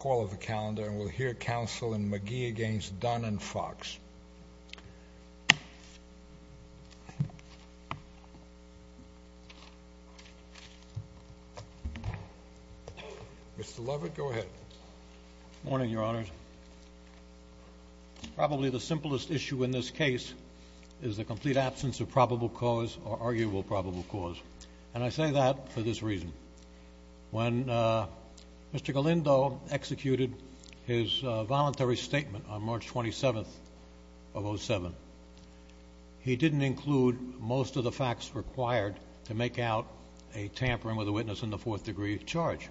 Call of the calendar, and we'll hear counsel in McGee against Dunn and Fox. Mr. Lovett, go ahead. Good morning, Your Honors. Probably the simplest issue in this case is the complete absence of probable cause or arguable probable cause. And I say that for this reason. When Mr. Galindo executed his voluntary statement on March 27th of 07, he didn't include most of the facts required to make out a tampering with a witness in the fourth degree of charge.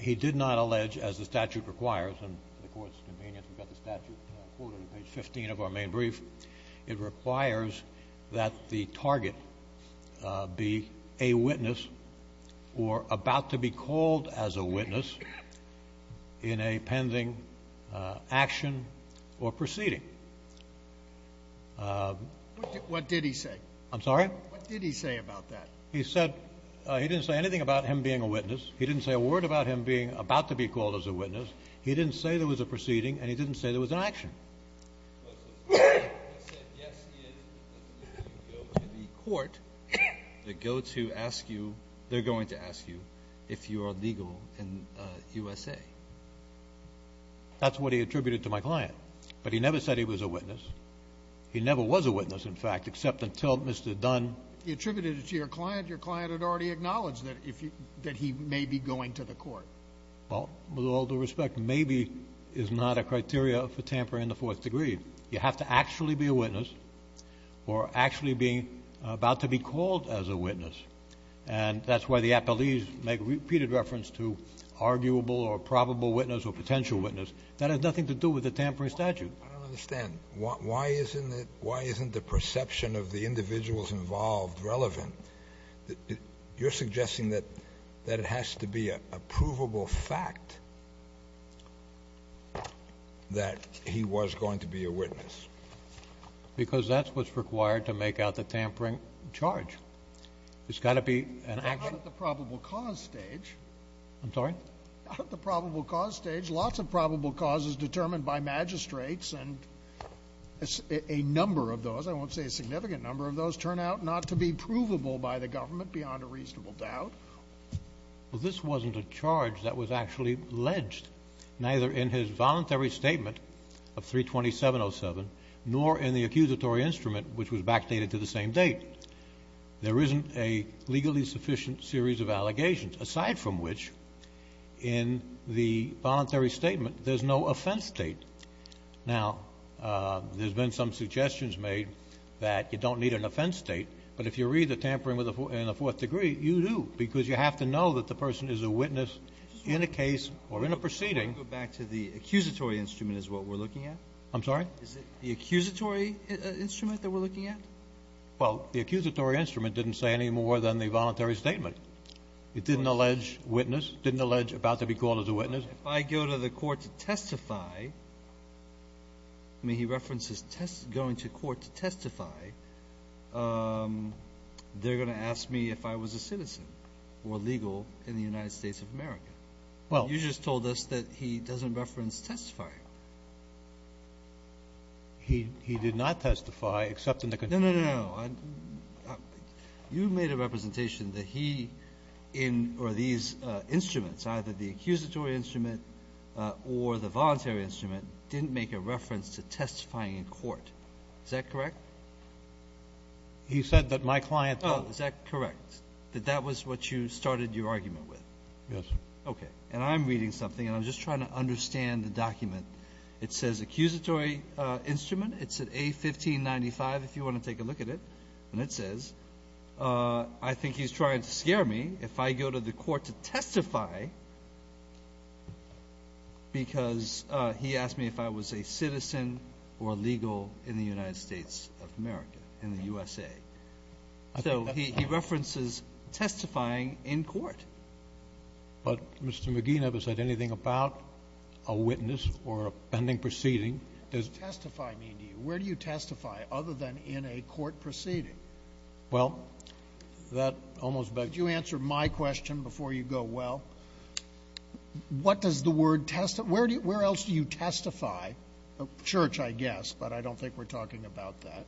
He did not allege, as the statute requires, and the court's convenience, we've got the statute quoted on page 15 of our main brief. It requires that the target be a witness or about to be called as a witness in a pending action or proceeding. What did he say? I'm sorry? What did he say about that? He said he didn't say anything about him being a witness. He didn't say a word about him being about to be called as a witness. He didn't say there was a proceeding, and he didn't say there was an action. He said, yes, he is. He's going to go to the court to go to ask you. They're going to ask you if you are legal in USA. That's what he attributed to my client. But he never said he was a witness. He never was a witness, in fact, except until Mr. Dunn. He attributed it to your client. Your client had already acknowledged that he may be going to the court. Well, with all due respect, maybe is not a criteria for tampering in the fourth degree. You have to actually be a witness or actually be about to be called as a witness. And that's why the appellees make repeated reference to arguable or probable witness or potential witness. That has nothing to do with the tampering statute. I don't understand. Why isn't the perception of the individuals involved relevant? You're suggesting that it has to be a provable fact that he was going to be a witness. Because that's what's required to make out the tampering charge. It's got to be an action. Not at the probable cause stage. I'm sorry? Not at the probable cause stage. Lots of probable cause is determined by magistrates, and a number of those, I won't say a significant number of those, turn out not to be provable by the government beyond a reasonable doubt. Well, this wasn't a charge that was actually alleged, neither in his voluntary statement of 320707, nor in the accusatory instrument, which was backdated to the same date. There isn't a legally sufficient series of allegations, aside from which, in the voluntary statement, there's no offense date. Now, there's been some suggestions made that you don't need an offense date, but if you read the tampering in the fourth degree, you do, because you have to know that the person is a witness in a case or in a proceeding. Can we go back to the accusatory instrument is what we're looking at? I'm sorry? Is it the accusatory instrument that we're looking at? Well, the accusatory instrument didn't say any more than the voluntary statement. It didn't allege witness, didn't allege about to be called as a witness. If I go to the court to testify, I mean, he references going to court to testify, they're going to ask me if I was a citizen or legal in the United States of America. Well, you just told us that he doesn't reference testifying. He did not testify, except in the contingency. No, no, no, no. You made a representation that he in or these instruments, either the accusatory instrument or the voluntary instrument, didn't make a reference to testifying in court. Is that correct? He said that my client does. Oh, is that correct, that that was what you started your argument with? Yes. Okay. And I'm reading something, and I'm just trying to understand the document. It says accusatory instrument. It's at A1595, if you want to take a look at it. And it says, I think he's trying to scare me if I go to the court to testify because he asked me if I was a citizen or legal in the United States of America, in the USA. So he references testifying in court. But, Mr. McGee, never said anything about a witness or a pending proceeding. What does testify mean to you? Where do you testify other than in a court proceeding? Well, that almost begs the question. Could you answer my question before you go? Well, what does the word testify? Where else do you testify? Church, I guess, but I don't think we're talking about that.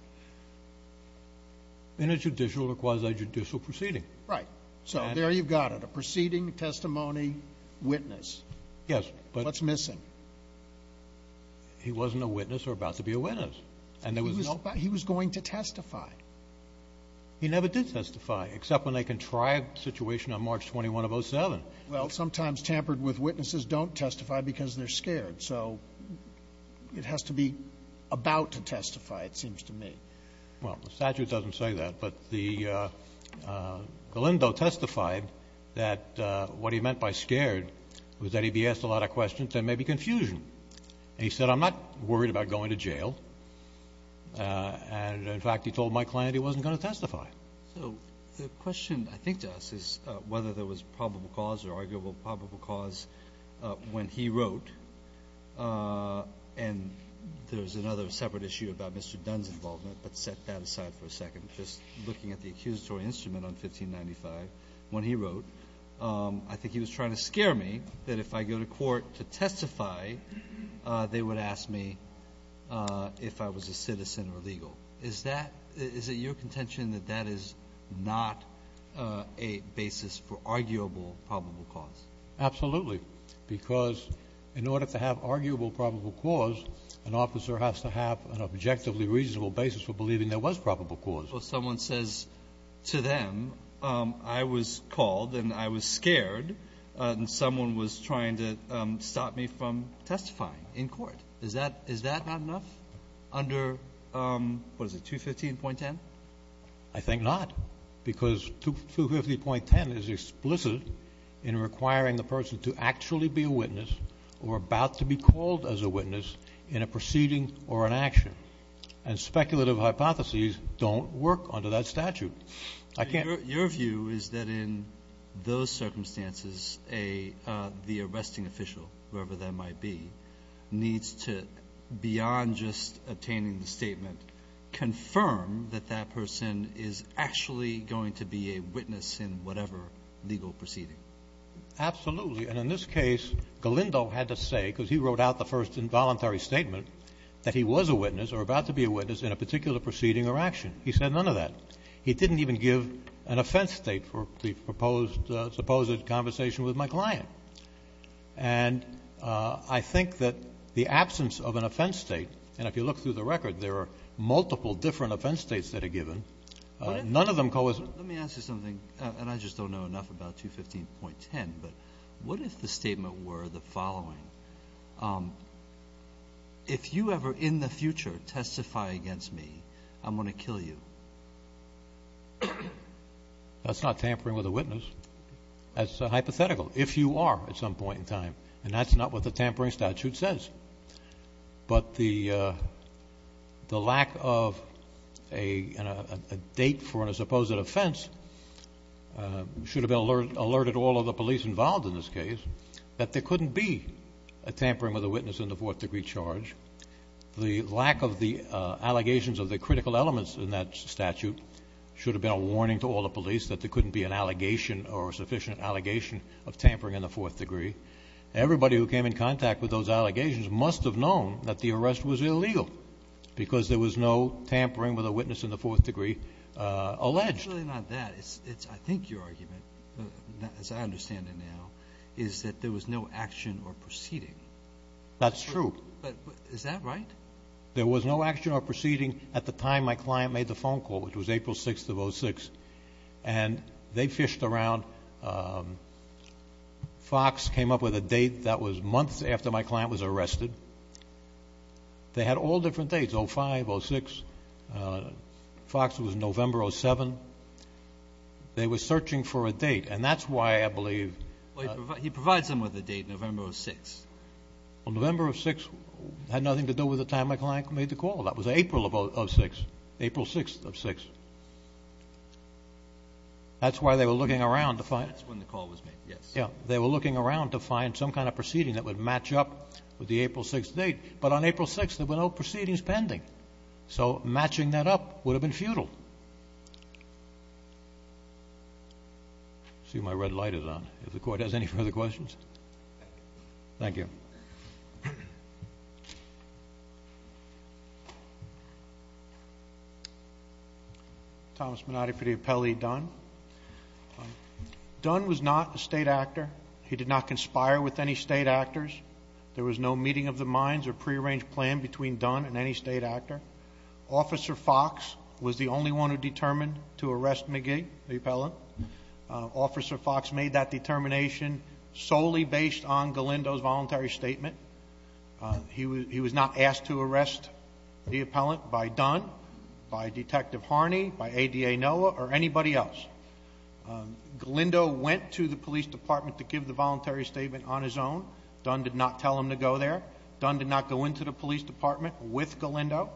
In a judicial or quasi-judicial proceeding. Right. So there you've got it, a proceeding, testimony, witness. Yes. What's missing? He wasn't a witness or about to be a witness. He was going to testify. He never did testify, except when they contrived a situation on March 21 of 07. Well, sometimes tampered with witnesses don't testify because they're scared. So it has to be about to testify, it seems to me. Well, the statute doesn't say that. But Galindo testified that what he meant by scared was that if he asked a lot of questions, there may be confusion. And he said, I'm not worried about going to jail. And, in fact, he told my client he wasn't going to testify. So the question I think to us is whether there was probable cause or arguable probable cause when he wrote. And there's another separate issue about Mr. Dunn's involvement, but set that aside for a second. Just looking at the accusatory instrument on 1595, when he wrote, I think he was trying to scare me that if I go to court to testify, they would ask me if I was a citizen or legal. Is that your contention that that is not a basis for arguable probable cause? Absolutely, because in order to have arguable probable cause, an officer has to have an objectively reasonable basis for believing there was probable cause. Well, someone says to them, I was called and I was scared, and someone was trying to stop me from testifying in court. Is that not enough under, what is it, 215.10? I think not, because 215.10 is explicit in requiring the person to actually be a witness or about to be called as a witness in a proceeding or an action. And speculative hypotheses don't work under that statute. Your view is that in those circumstances, the arresting official, whoever that might be, needs to, beyond just obtaining the statement, confirm that that person is actually going to be a witness in whatever legal proceeding. Absolutely. And in this case, Galindo had to say, because he wrote out the first involuntary statement, that he was a witness or about to be a witness in a particular proceeding or action. He said none of that. He didn't even give an offense state for the supposed conversation with my client. And I think that the absence of an offense state, and if you look through the record, there are multiple different offense states that are given. None of them coexist. Let me ask you something, and I just don't know enough about 215.10, but what if the statement were the following? If you ever in the future testify against me, I'm going to kill you. That's not tampering with a witness. That's hypothetical, if you are at some point in time. And that's not what the tampering statute says. But the lack of a date for a supposed offense should have alerted all of the police involved in this case that there couldn't be a tampering with a witness in the fourth degree charge. The lack of the allegations of the critical elements in that statute should have been a warning to all the police that there couldn't be an allegation or a sufficient allegation of tampering in the fourth degree. Everybody who came in contact with those allegations must have known that the arrest was illegal because there was no tampering with a witness in the fourth degree alleged. It's really not that. I think your argument, as I understand it now, is that there was no action or proceeding. That's true. But is that right? There was no action or proceeding at the time my client made the phone call, which was April 6th of 06. And they fished around. Fox came up with a date that was months after my client was arrested. They had all different dates, 05, 06. Fox was November 07. They were searching for a date. And that's why I believe he provides them with a date, November 06. Well, November 06 had nothing to do with the time my client made the call. That was April of 06, April 6th of 06. That's why they were looking around to find. That's when the call was made, yes. Yeah. They were looking around to find some kind of proceeding that would match up with the April 6th date. But on April 6th, there were no proceedings pending. So matching that up would have been futile. I see my red light is on. If the Court has any further questions. Thank you. Thomas Minotti for the appellee, Dunn. Dunn was not a state actor. He did not conspire with any state actors. There was no meeting of the minds or prearranged plan between Dunn and any state actor. Officer Fox was the only one who determined to arrest McGee, the appellant. Officer Fox made that determination solely based on Galindo's voluntary statement. He was not asked to arrest the appellant by Dunn, by Detective Harney, by ADA Noah, or anybody else. Galindo went to the police department to give the voluntary statement on his own. Dunn did not tell him to go there. Dunn did not go into the police department with Galindo.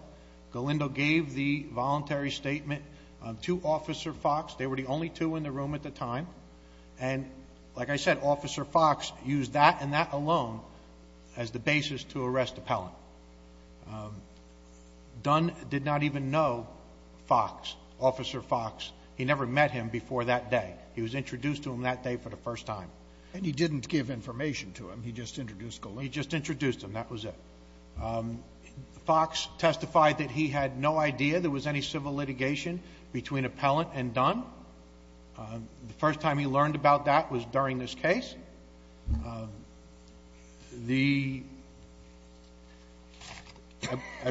Galindo gave the voluntary statement to Officer Fox. They were the only two in the room at the time. And, like I said, Officer Fox used that and that alone as the basis to arrest the appellant. Dunn did not even know Fox, Officer Fox. He never met him before that day. He was introduced to him that day for the first time. And he didn't give information to him. He just introduced Galindo. He just introduced him. That was it. Fox testified that he had no idea there was any civil litigation between appellant and Dunn. The first time he learned about that was during this case. I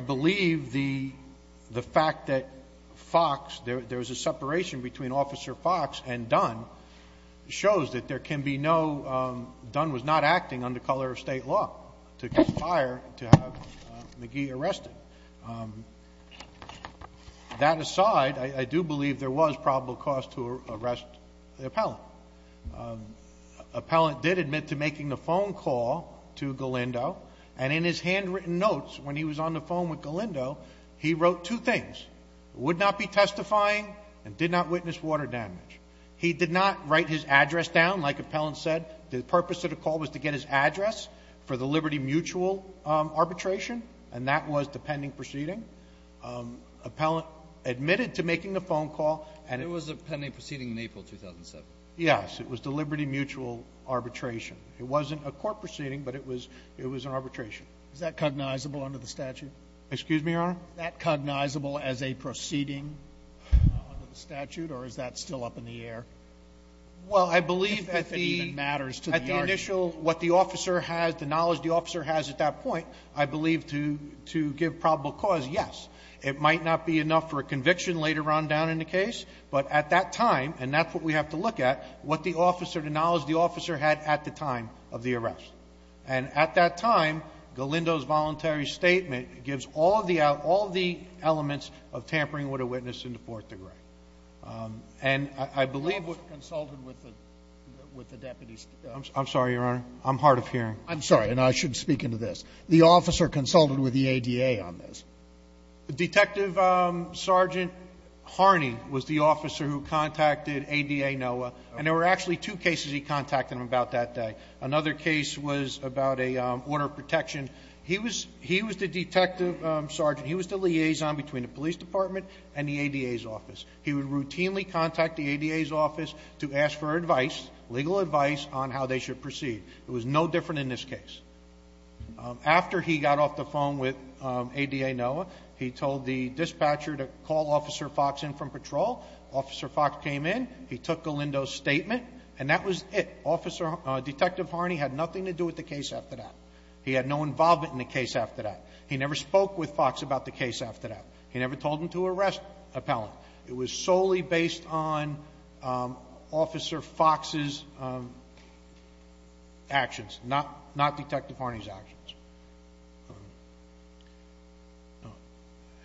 believe the fact that Fox, there was a separation between Officer Fox and Dunn, shows that there can be no, Dunn was not acting under color of state law to fire, to have McGee arrested. That aside, I do believe there was probable cause to arrest the appellant. Appellant did admit to making the phone call to Galindo. And in his handwritten notes when he was on the phone with Galindo, he wrote two things. Would not be testifying and did not witness water damage. He did not write his address down, like appellant said. The purpose of the call was to get his address for the Liberty Mutual arbitration. And that was the pending proceeding. Appellant admitted to making the phone call. And it was a pending proceeding in April 2007. Yes, it was the Liberty Mutual arbitration. It wasn't a court proceeding, but it was an arbitration. Is that cognizable under the statute? Excuse me, Your Honor? Is that cognizable as a proceeding under the statute, or is that still up in the air? Well, I believe that the initial, what the officer has, the knowledge the officer has at that point, I believe to give probable cause, yes. It might not be enough for a conviction later on down in the case, but at that time, and that's what we have to look at, what the officer, the knowledge the officer had at the time of the arrest. And at that time, Galindo's voluntary statement gives all the elements of tampering with a witness in the fourth degree. And I believe we've consulted with the deputies. I'm sorry, Your Honor. I'm hard of hearing. I'm sorry, and I shouldn't speak into this. The officer consulted with the ADA on this. Detective Sergeant Harney was the officer who contacted ADA NOAA. And there were actually two cases he contacted them about that day. Another case was about an order of protection. He was the detective sergeant. He was the liaison between the police department and the ADA's office. He would routinely contact the ADA's office to ask for advice, legal advice, on how they should proceed. It was no different in this case. After he got off the phone with ADA NOAA, he told the dispatcher to call Officer Fox in from patrol. Officer Fox came in. He took Galindo's statement, and that was it. Detective Harney had nothing to do with the case after that. He had no involvement in the case after that. He never spoke with Fox about the case after that. He never told him to arrest an appellant. It was solely based on Officer Fox's actions, not Detective Harney's actions.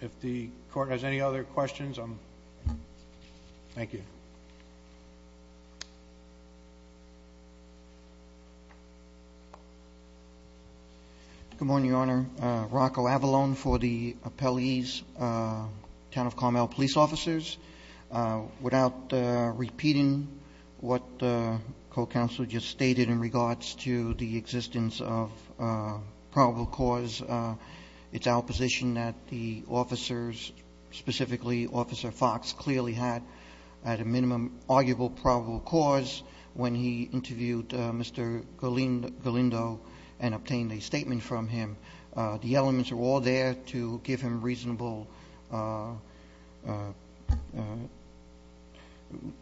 If the court has any other questions, thank you. Good morning, Your Honor. Rocco Avalon for the appellee's town of Carmel Police Officers. Without repeating what the co-counselor just stated in regards to the existence of probable cause, it's our position that the officers, specifically Officer Fox, clearly had at a minimum arguable probable cause when he interviewed Mr. Galindo and obtained a statement from him. The elements are all there to give him a reasonable –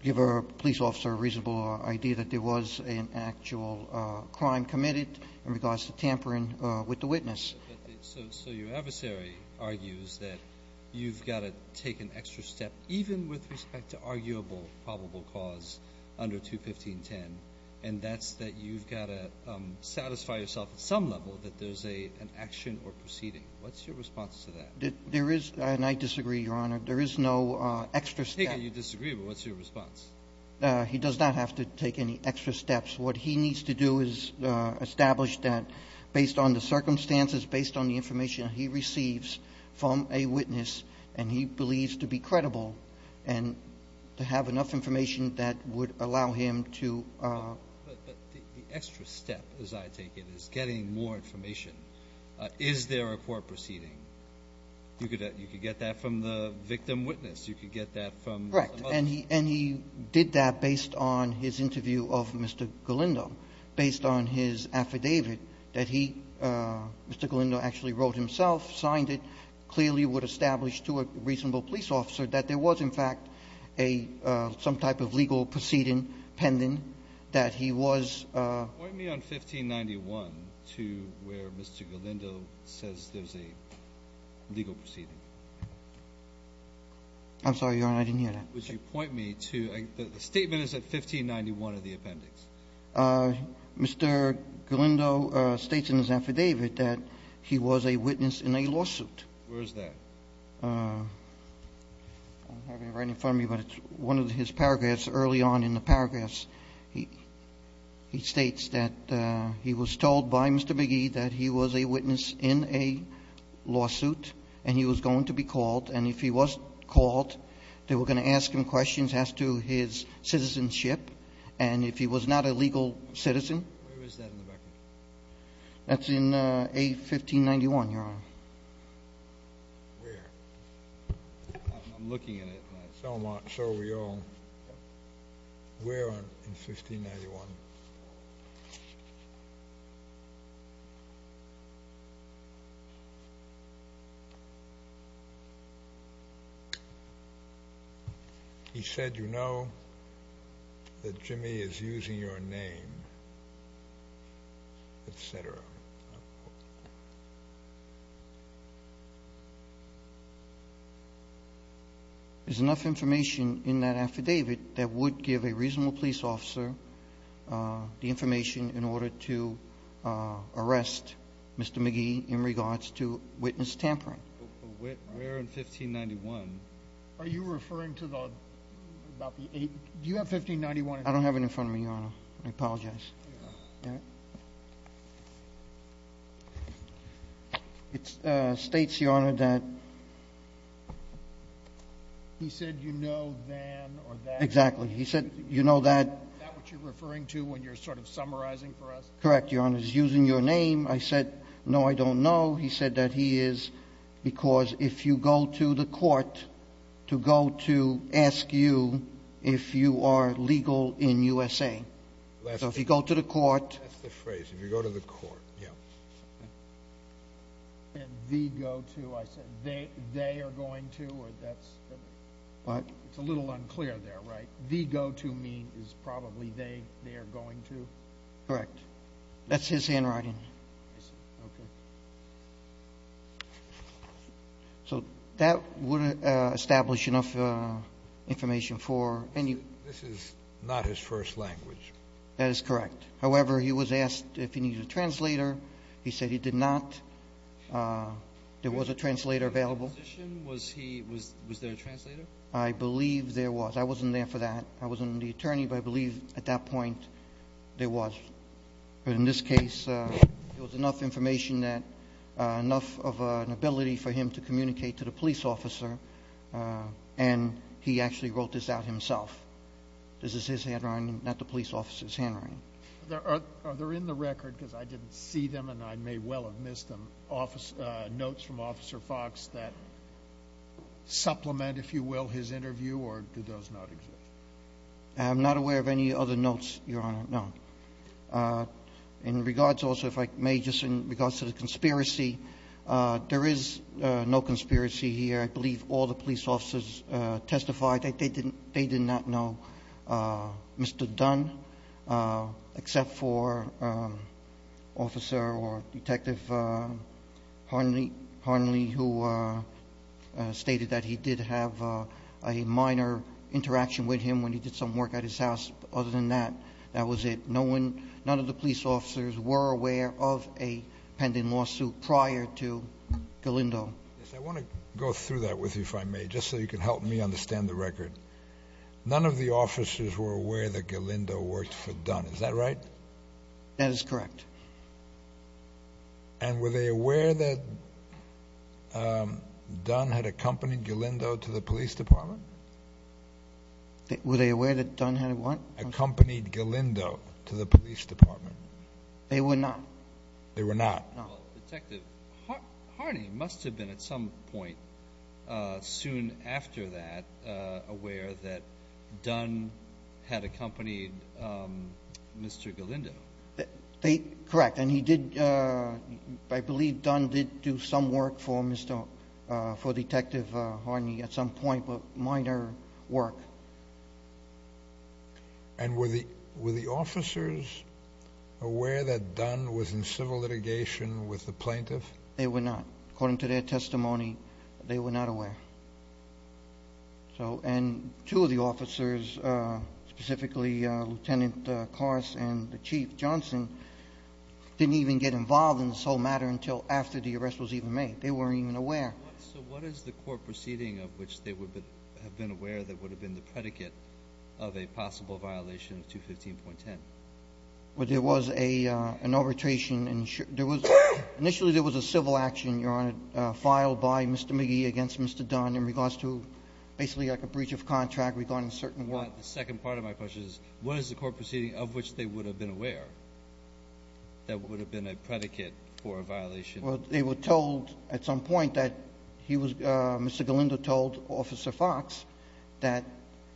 give a police officer a reasonable idea that there was an actual crime committed in regards to tampering with the witness. So your adversary argues that you've got to take an extra step, even with respect to arguable probable cause under 215.10, and that's that you've got to satisfy yourself at some level that there's an action or proceeding. What's your response to that? There is – and I disagree, Your Honor. There is no extra step. You disagree, but what's your response? He does not have to take any extra steps. What he needs to do is establish that based on the circumstances, based on the information he receives from a witness, and he believes to be credible and to have enough information that would allow him to – But the extra step, as I take it, is getting more information. Is there a court proceeding? You could get that from the victim witness. You could get that from – Correct. And he did that based on his interview of Mr. Galindo, based on his affidavit that he – Mr. Galindo actually wrote himself, signed it, clearly would establish to a reasonable police officer that there was, in fact, a – some type of legal proceeding pending that he was – Point me on 1591 to where Mr. Galindo says there's a legal proceeding. I'm sorry, Your Honor. I didn't hear that. Would you point me to – the statement is at 1591 of the appendix. Mr. Galindo states in his affidavit that he was a witness in a lawsuit. Where is that? I have it right in front of me, but it's one of his paragraphs early on in the paragraphs. He states that he was told by Mr. McGee that he was a witness in a lawsuit, and he was going to be called, and if he was called, they were going to ask him questions as to his citizenship. And if he was not a legal citizen – Where is that in the record? That's in A1591, Your Honor. Where? I'm looking at it. So are we all. Where in 1591? 1591. He said, you know, that Jimmy is using your name, et cetera. There's enough information in that affidavit that would give a reasonable police officer the information in order to arrest Mr. McGee in regards to witness tampering. But where in 1591? Are you referring to the – do you have 1591 in front of you? I don't have it in front of me, Your Honor. I apologize. Here you are. It states, Your Honor, that – He said, you know, than or that. Exactly. He said, you know, that – Is that what you're referring to when you're sort of summarizing for us? Correct, Your Honor. He's using your name. I said, no, I don't know. He said that he is because if you go to the court to go to ask you if you are legal in USA. So if you go to the court – That's the phrase. If you go to the court, yeah. And the go to, I said they are going to or that's – What? It's a little unclear there, right? The go to mean is probably they are going to? Correct. That's his handwriting. I see. Okay. So that would establish enough information for – This is not his first language. That is correct. However, he was asked if he needed a translator. He said he did not. There was a translator available. Was there a translator? I believe there was. I wasn't there for that. I wasn't the attorney, but I believe at that point there was. But in this case, there was enough information that – enough of an ability for him to communicate to the police officer, and he actually wrote this out himself. This is his handwriting, not the police officer's handwriting. Are there in the record, because I didn't see them and I may well have missed them, notes from Officer Fox that supplement, if you will, his interview, or do those not exist? I'm not aware of any other notes, Your Honor, no. In regards also, if I may, just in regards to the conspiracy, there is no conspiracy here. I believe all the police officers testified. They did not know Mr. Dunn, except for Officer or Detective Harnley, who stated that he did have a minor interaction with him when he did some work at his house. Other than that, that was it. None of the police officers were aware of a pending lawsuit prior to Galindo. Yes, I want to go through that with you, if I may, just so you can help me understand the record. None of the officers were aware that Galindo worked for Dunn. Is that right? That is correct. And were they aware that Dunn had accompanied Galindo to the police department? Were they aware that Dunn had what? Accompanied Galindo to the police department. They were not. They were not. Well, Detective, Harnley must have been at some point soon after that aware that Dunn had accompanied Mr. Galindo. Correct. And I believe Dunn did do some work for Detective Harnley at some point, but minor work. And were the officers aware that Dunn was in civil litigation with the plaintiff? They were not. According to their testimony, they were not aware. And two of the officers, specifically Lieutenant Carson and the Chief Johnson, didn't even get involved in this whole matter until after the arrest was even made. They weren't even aware. So what is the court proceeding of which they would have been aware that would have been the predicate of a possible violation of 215.10? Well, there was an arbitration. Initially there was a civil action, Your Honor, filed by Mr. McGee against Mr. Dunn in regards to basically like a breach of contract regarding a certain work. The second part of my question is what is the court proceeding of which they would have been aware that would have been a predicate for a violation? Well, they were told at some point that Mr. Galindo told Officer Fox that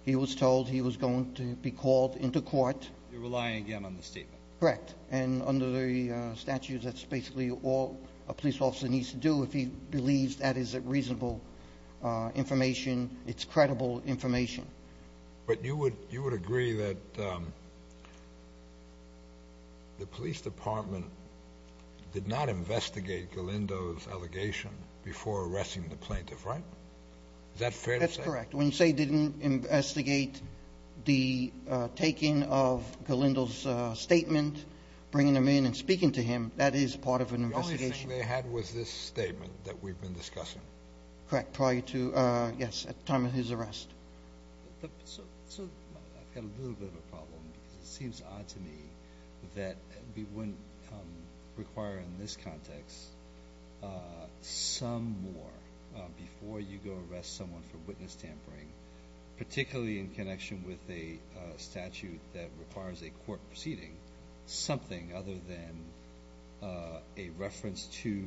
he was told he was going to be called into court. You're relying again on the statement. Correct. And under the statutes, that's basically all a police officer needs to do. If he believes that is reasonable information, it's credible information. But you would agree that the police department did not investigate Galindo's allegation before arresting the plaintiff, right? Is that fair to say? That's correct. When you say they didn't investigate the taking of Galindo's statement, bringing him in and speaking to him, that is part of an investigation. The only thing they had was this statement that we've been discussing. Correct. Prior to, yes, at the time of his arrest. So I've got a little bit of a problem. It seems odd to me that we wouldn't require in this context some more before you go arrest someone for witness tampering, particularly in connection with a statute that requires a court proceeding, something other than a reference to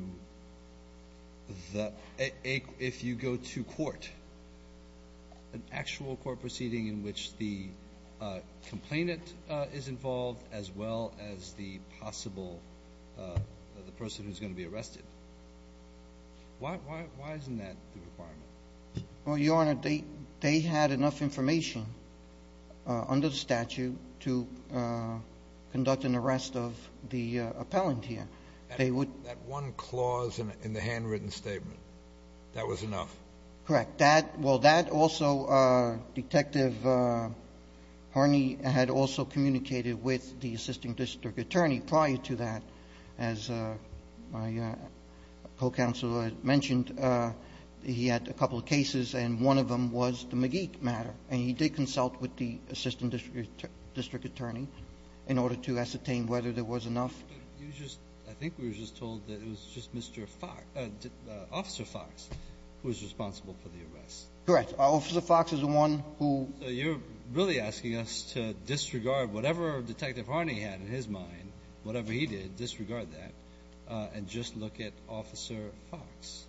if you go to court, an actual court proceeding in which the complainant is involved as well as the possible person who's going to be arrested. Why isn't that the requirement? Well, Your Honor, they had enough information under the statute to conduct an arrest of the appellant here. That one clause in the handwritten statement, that was enough? Correct. Well, that also Detective Harney had also communicated with the assisting district attorney prior to that. As my co-counsel had mentioned, he had a couple of cases, and one of them was the McGeek matter. And he did consult with the assisting district attorney in order to ascertain whether there was enough. I think we were just told that it was just Mr. Fox, Officer Fox, who was responsible for the arrest. Correct. Officer Fox is the one who ---- So you're really asking us to disregard whatever Detective Harney had in his mind, and whatever he did, disregard that, and just look at Officer Fox?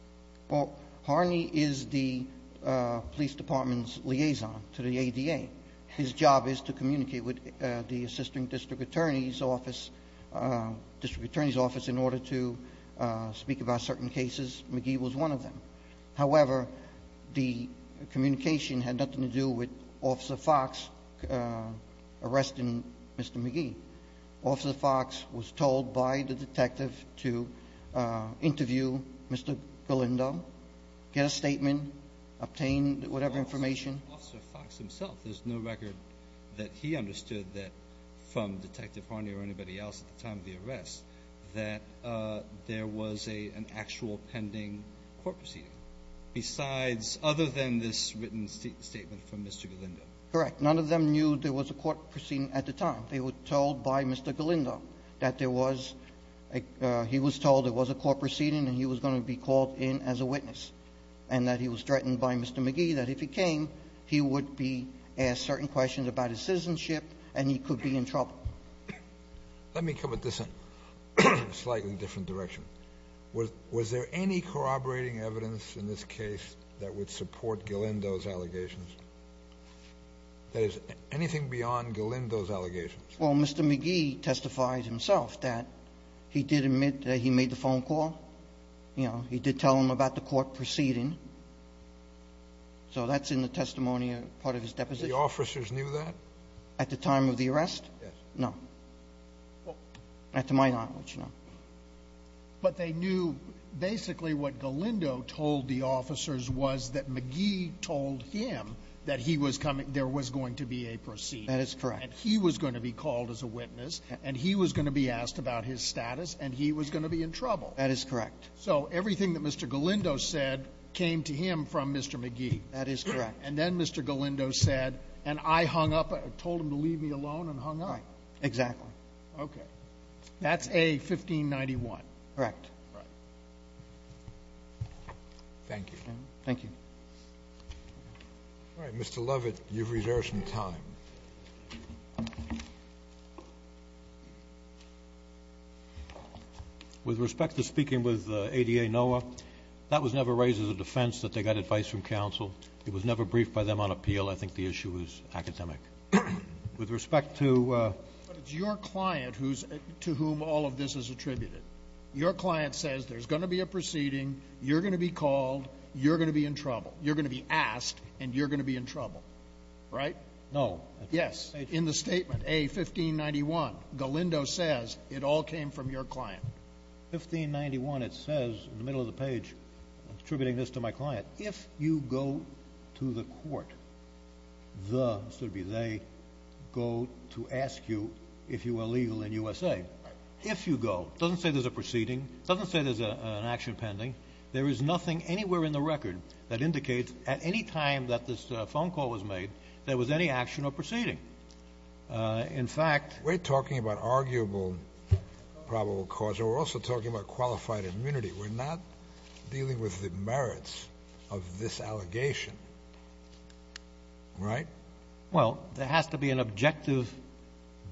Well, Harney is the police department's liaison to the ADA. His job is to communicate with the assisting district attorney's office in order to speak about certain cases. McGee was one of them. However, the communication had nothing to do with Officer Fox arresting Mr. McGee. Officer Fox was told by the detective to interview Mr. Galindo, get a statement, obtain whatever information. Officer Fox himself, there's no record that he understood from Detective Harney or anybody else at the time of the arrest that there was an actual pending court proceeding, other than this written statement from Mr. Galindo. Correct. None of them knew there was a court proceeding at the time. They were told by Mr. Galindo that there was a ---- he was told there was a court proceeding and he was going to be called in as a witness and that he was threatened by Mr. McGee that if he came, he would be asked certain questions about his citizenship and he could be in trouble. Let me come at this in a slightly different direction. Was there any corroborating evidence in this case that would support Galindo's allegations? That is, anything beyond Galindo's allegations? Well, Mr. McGee testified himself that he did admit that he made the phone call. You know, he did tell him about the court proceeding. So that's in the testimony part of his deposition. The officers knew that? At the time of the arrest? Yes. No. Well. Not to my knowledge, no. But they knew basically what Galindo told the officers was that McGee told him that he was coming, there was going to be a proceeding. That is correct. And he was going to be called as a witness and he was going to be asked about his status and he was going to be in trouble. That is correct. So everything that Mr. Galindo said came to him from Mr. McGee. That is correct. And then Mr. Galindo said, and I hung up, told him to leave me alone and hung up. Right. Exactly. Okay. That's A-1591. Correct. Right. Thank you. Thank you. All right, Mr. Lovett, you've reserved some time. With respect to speaking with ADA NOAA, that was never raised as a defense that they got advice from counsel. It was never briefed by them on appeal. I think the issue was academic. With respect to ---- But it's your client to whom all of this is attributed. Your client says there's going to be a proceeding, you're going to be called, you're going to be in trouble. You're going to be asked and you're going to be in trouble. Right? No. Yes. In the statement, A-1591, Galindo says it all came from your client. A-1591, it says in the middle of the page, attributing this to my client, if you go to the court, the, this would be they, go to ask you if you are legal in USA. Right. If you go, it doesn't say there's a proceeding. It doesn't say there's an action pending. There is nothing anywhere in the record that indicates at any time that this phone call was made there was any action or proceeding. In fact ---- We're talking about arguable probable cause. We're also talking about qualified immunity. We're not dealing with the merits of this allegation. Right? Well, there has to be an objective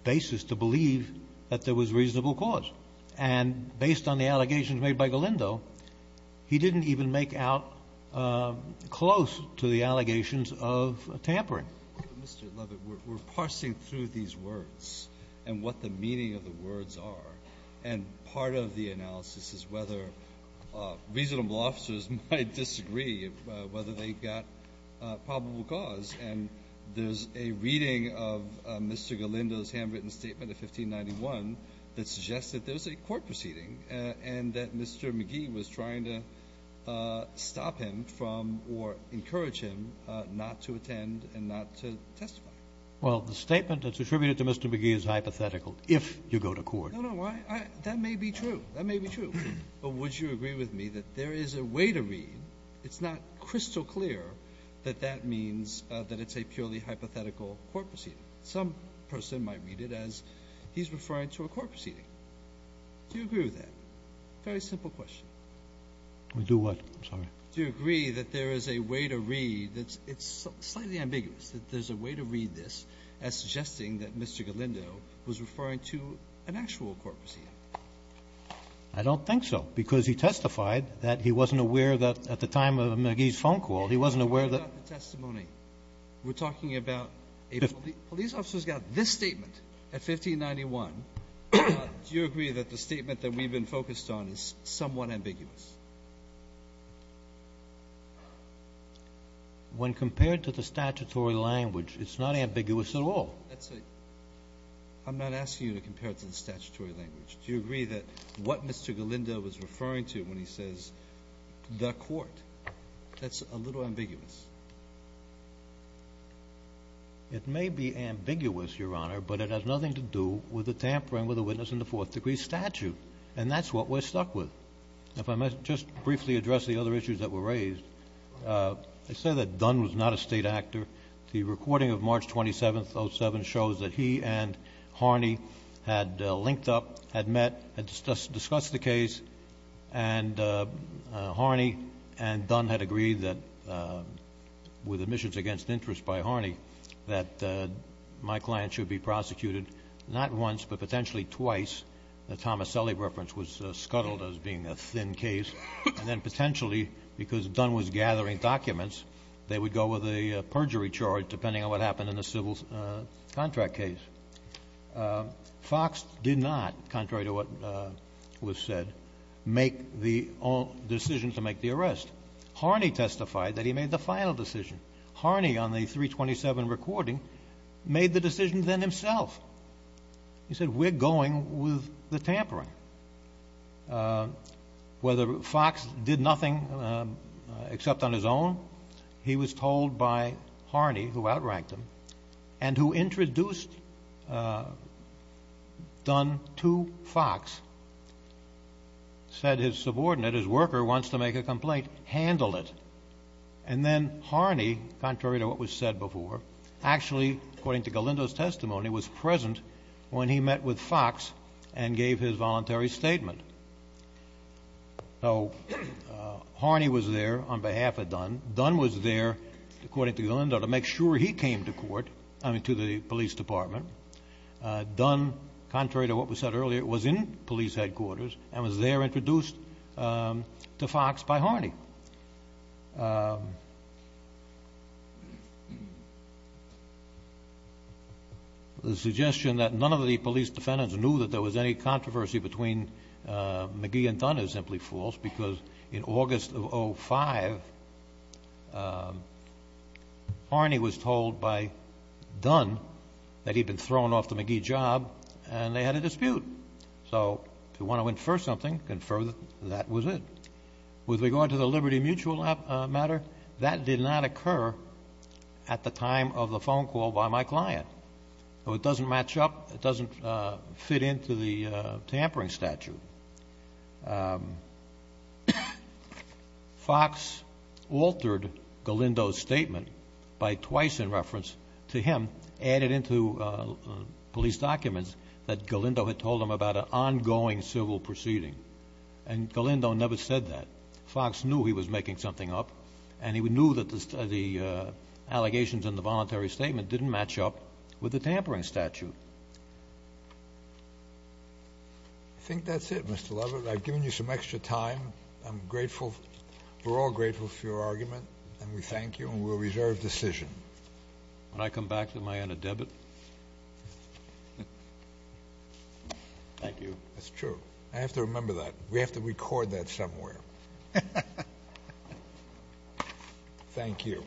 basis to believe that there was reasonable cause. And based on the allegations made by Galindo, he didn't even make out close to the allegations of tampering. Mr. Lovett, we're parsing through these words and what the meaning of the words are. And part of the analysis is whether reasonable officers might disagree whether they got probable cause. And there's a reading of Mr. Galindo's handwritten statement of 1591 that suggests that there's a court proceeding and that Mr. McGee was trying to stop him from or encourage him not to attend and not to testify. Well, the statement that's attributed to Mr. McGee is hypothetical if you go to court. No, no. That may be true. That may be true. But would you agree with me that there is a way to read, it's not crystal clear, that that means that it's a purely hypothetical court proceeding. Some person might read it as he's referring to a court proceeding. Do you agree with that? Very simple question. Do what? I'm sorry. Do you agree that there is a way to read, it's slightly ambiguous, that there's a way to read this as suggesting that Mr. Galindo was referring to an actual court proceeding? I don't think so because he testified that he wasn't aware that at the time of McGee's phone call, he wasn't aware that We're talking about the testimony. Do you agree that the statement that we've been focused on is somewhat ambiguous? When compared to the statutory language, it's not ambiguous at all. I'm not asking you to compare it to the statutory language. Do you agree that what Mr. Galindo was referring to when he says the court, that's a little ambiguous? It may be ambiguous, Your Honor, but it has nothing to do with the tampering with the witness in the fourth degree statute. And that's what we're stuck with. If I might just briefly address the other issues that were raised. I say that Dunn was not a state actor. The recording of March 27th, 07, shows that he and Harney had linked up, had met, had discussed the case, and Harney and Dunn had agreed that, with admissions against interest by Harney, that my client should be prosecuted not once but potentially twice. The Tomaselli reference was scuttled as being a thin case. And then potentially, because Dunn was gathering documents, they would go with a perjury charge depending on what happened in the civil contract case. Fox did not, contrary to what was said, make the decision to make the arrest. Harney testified that he made the final decision. Harney, on the 327 recording, made the decision then himself. He said, we're going with the tampering. Whether Fox did nothing except on his own, he was told by Harney, who outranked him, and who introduced Dunn to Fox, said his subordinate, his worker, wants to make a complaint. Handle it. And then Harney, contrary to what was said before, actually, according to Galindo's testimony, was present when he met with Fox and gave his voluntary statement. Dunn was there, according to Galindo, to make sure he came to court, I mean, to the police department. Dunn, contrary to what was said earlier, was in police headquarters and was there introduced to Fox by Harney. The suggestion that none of the police defendants knew that there was any controversy between McGee and Dunn is simply false, because in August of 2005, Harney was told by Dunn that he'd been thrown off the McGee job and they had a dispute. So if you want to infer something, confer that that was it. With regard to the Liberty Mutual matter, that did not occur at the time of the phone call by my client. It doesn't match up. It doesn't fit into the tampering statute. Fox altered Galindo's statement by twice, in reference to him, added into police documents that Galindo had told him about an ongoing civil proceeding. And Galindo never said that. Fox knew he was making something up, and he knew that the allegations in the voluntary statement didn't match up with the tampering statute. I think that's it, Mr. Lovett. I've given you some extra time. I'm grateful. We're all grateful for your argument, and we thank you, and we'll reserve decision. When I come back, am I on a debit? Thank you. That's true. I have to remember that. We have to record that somewhere. Thank you.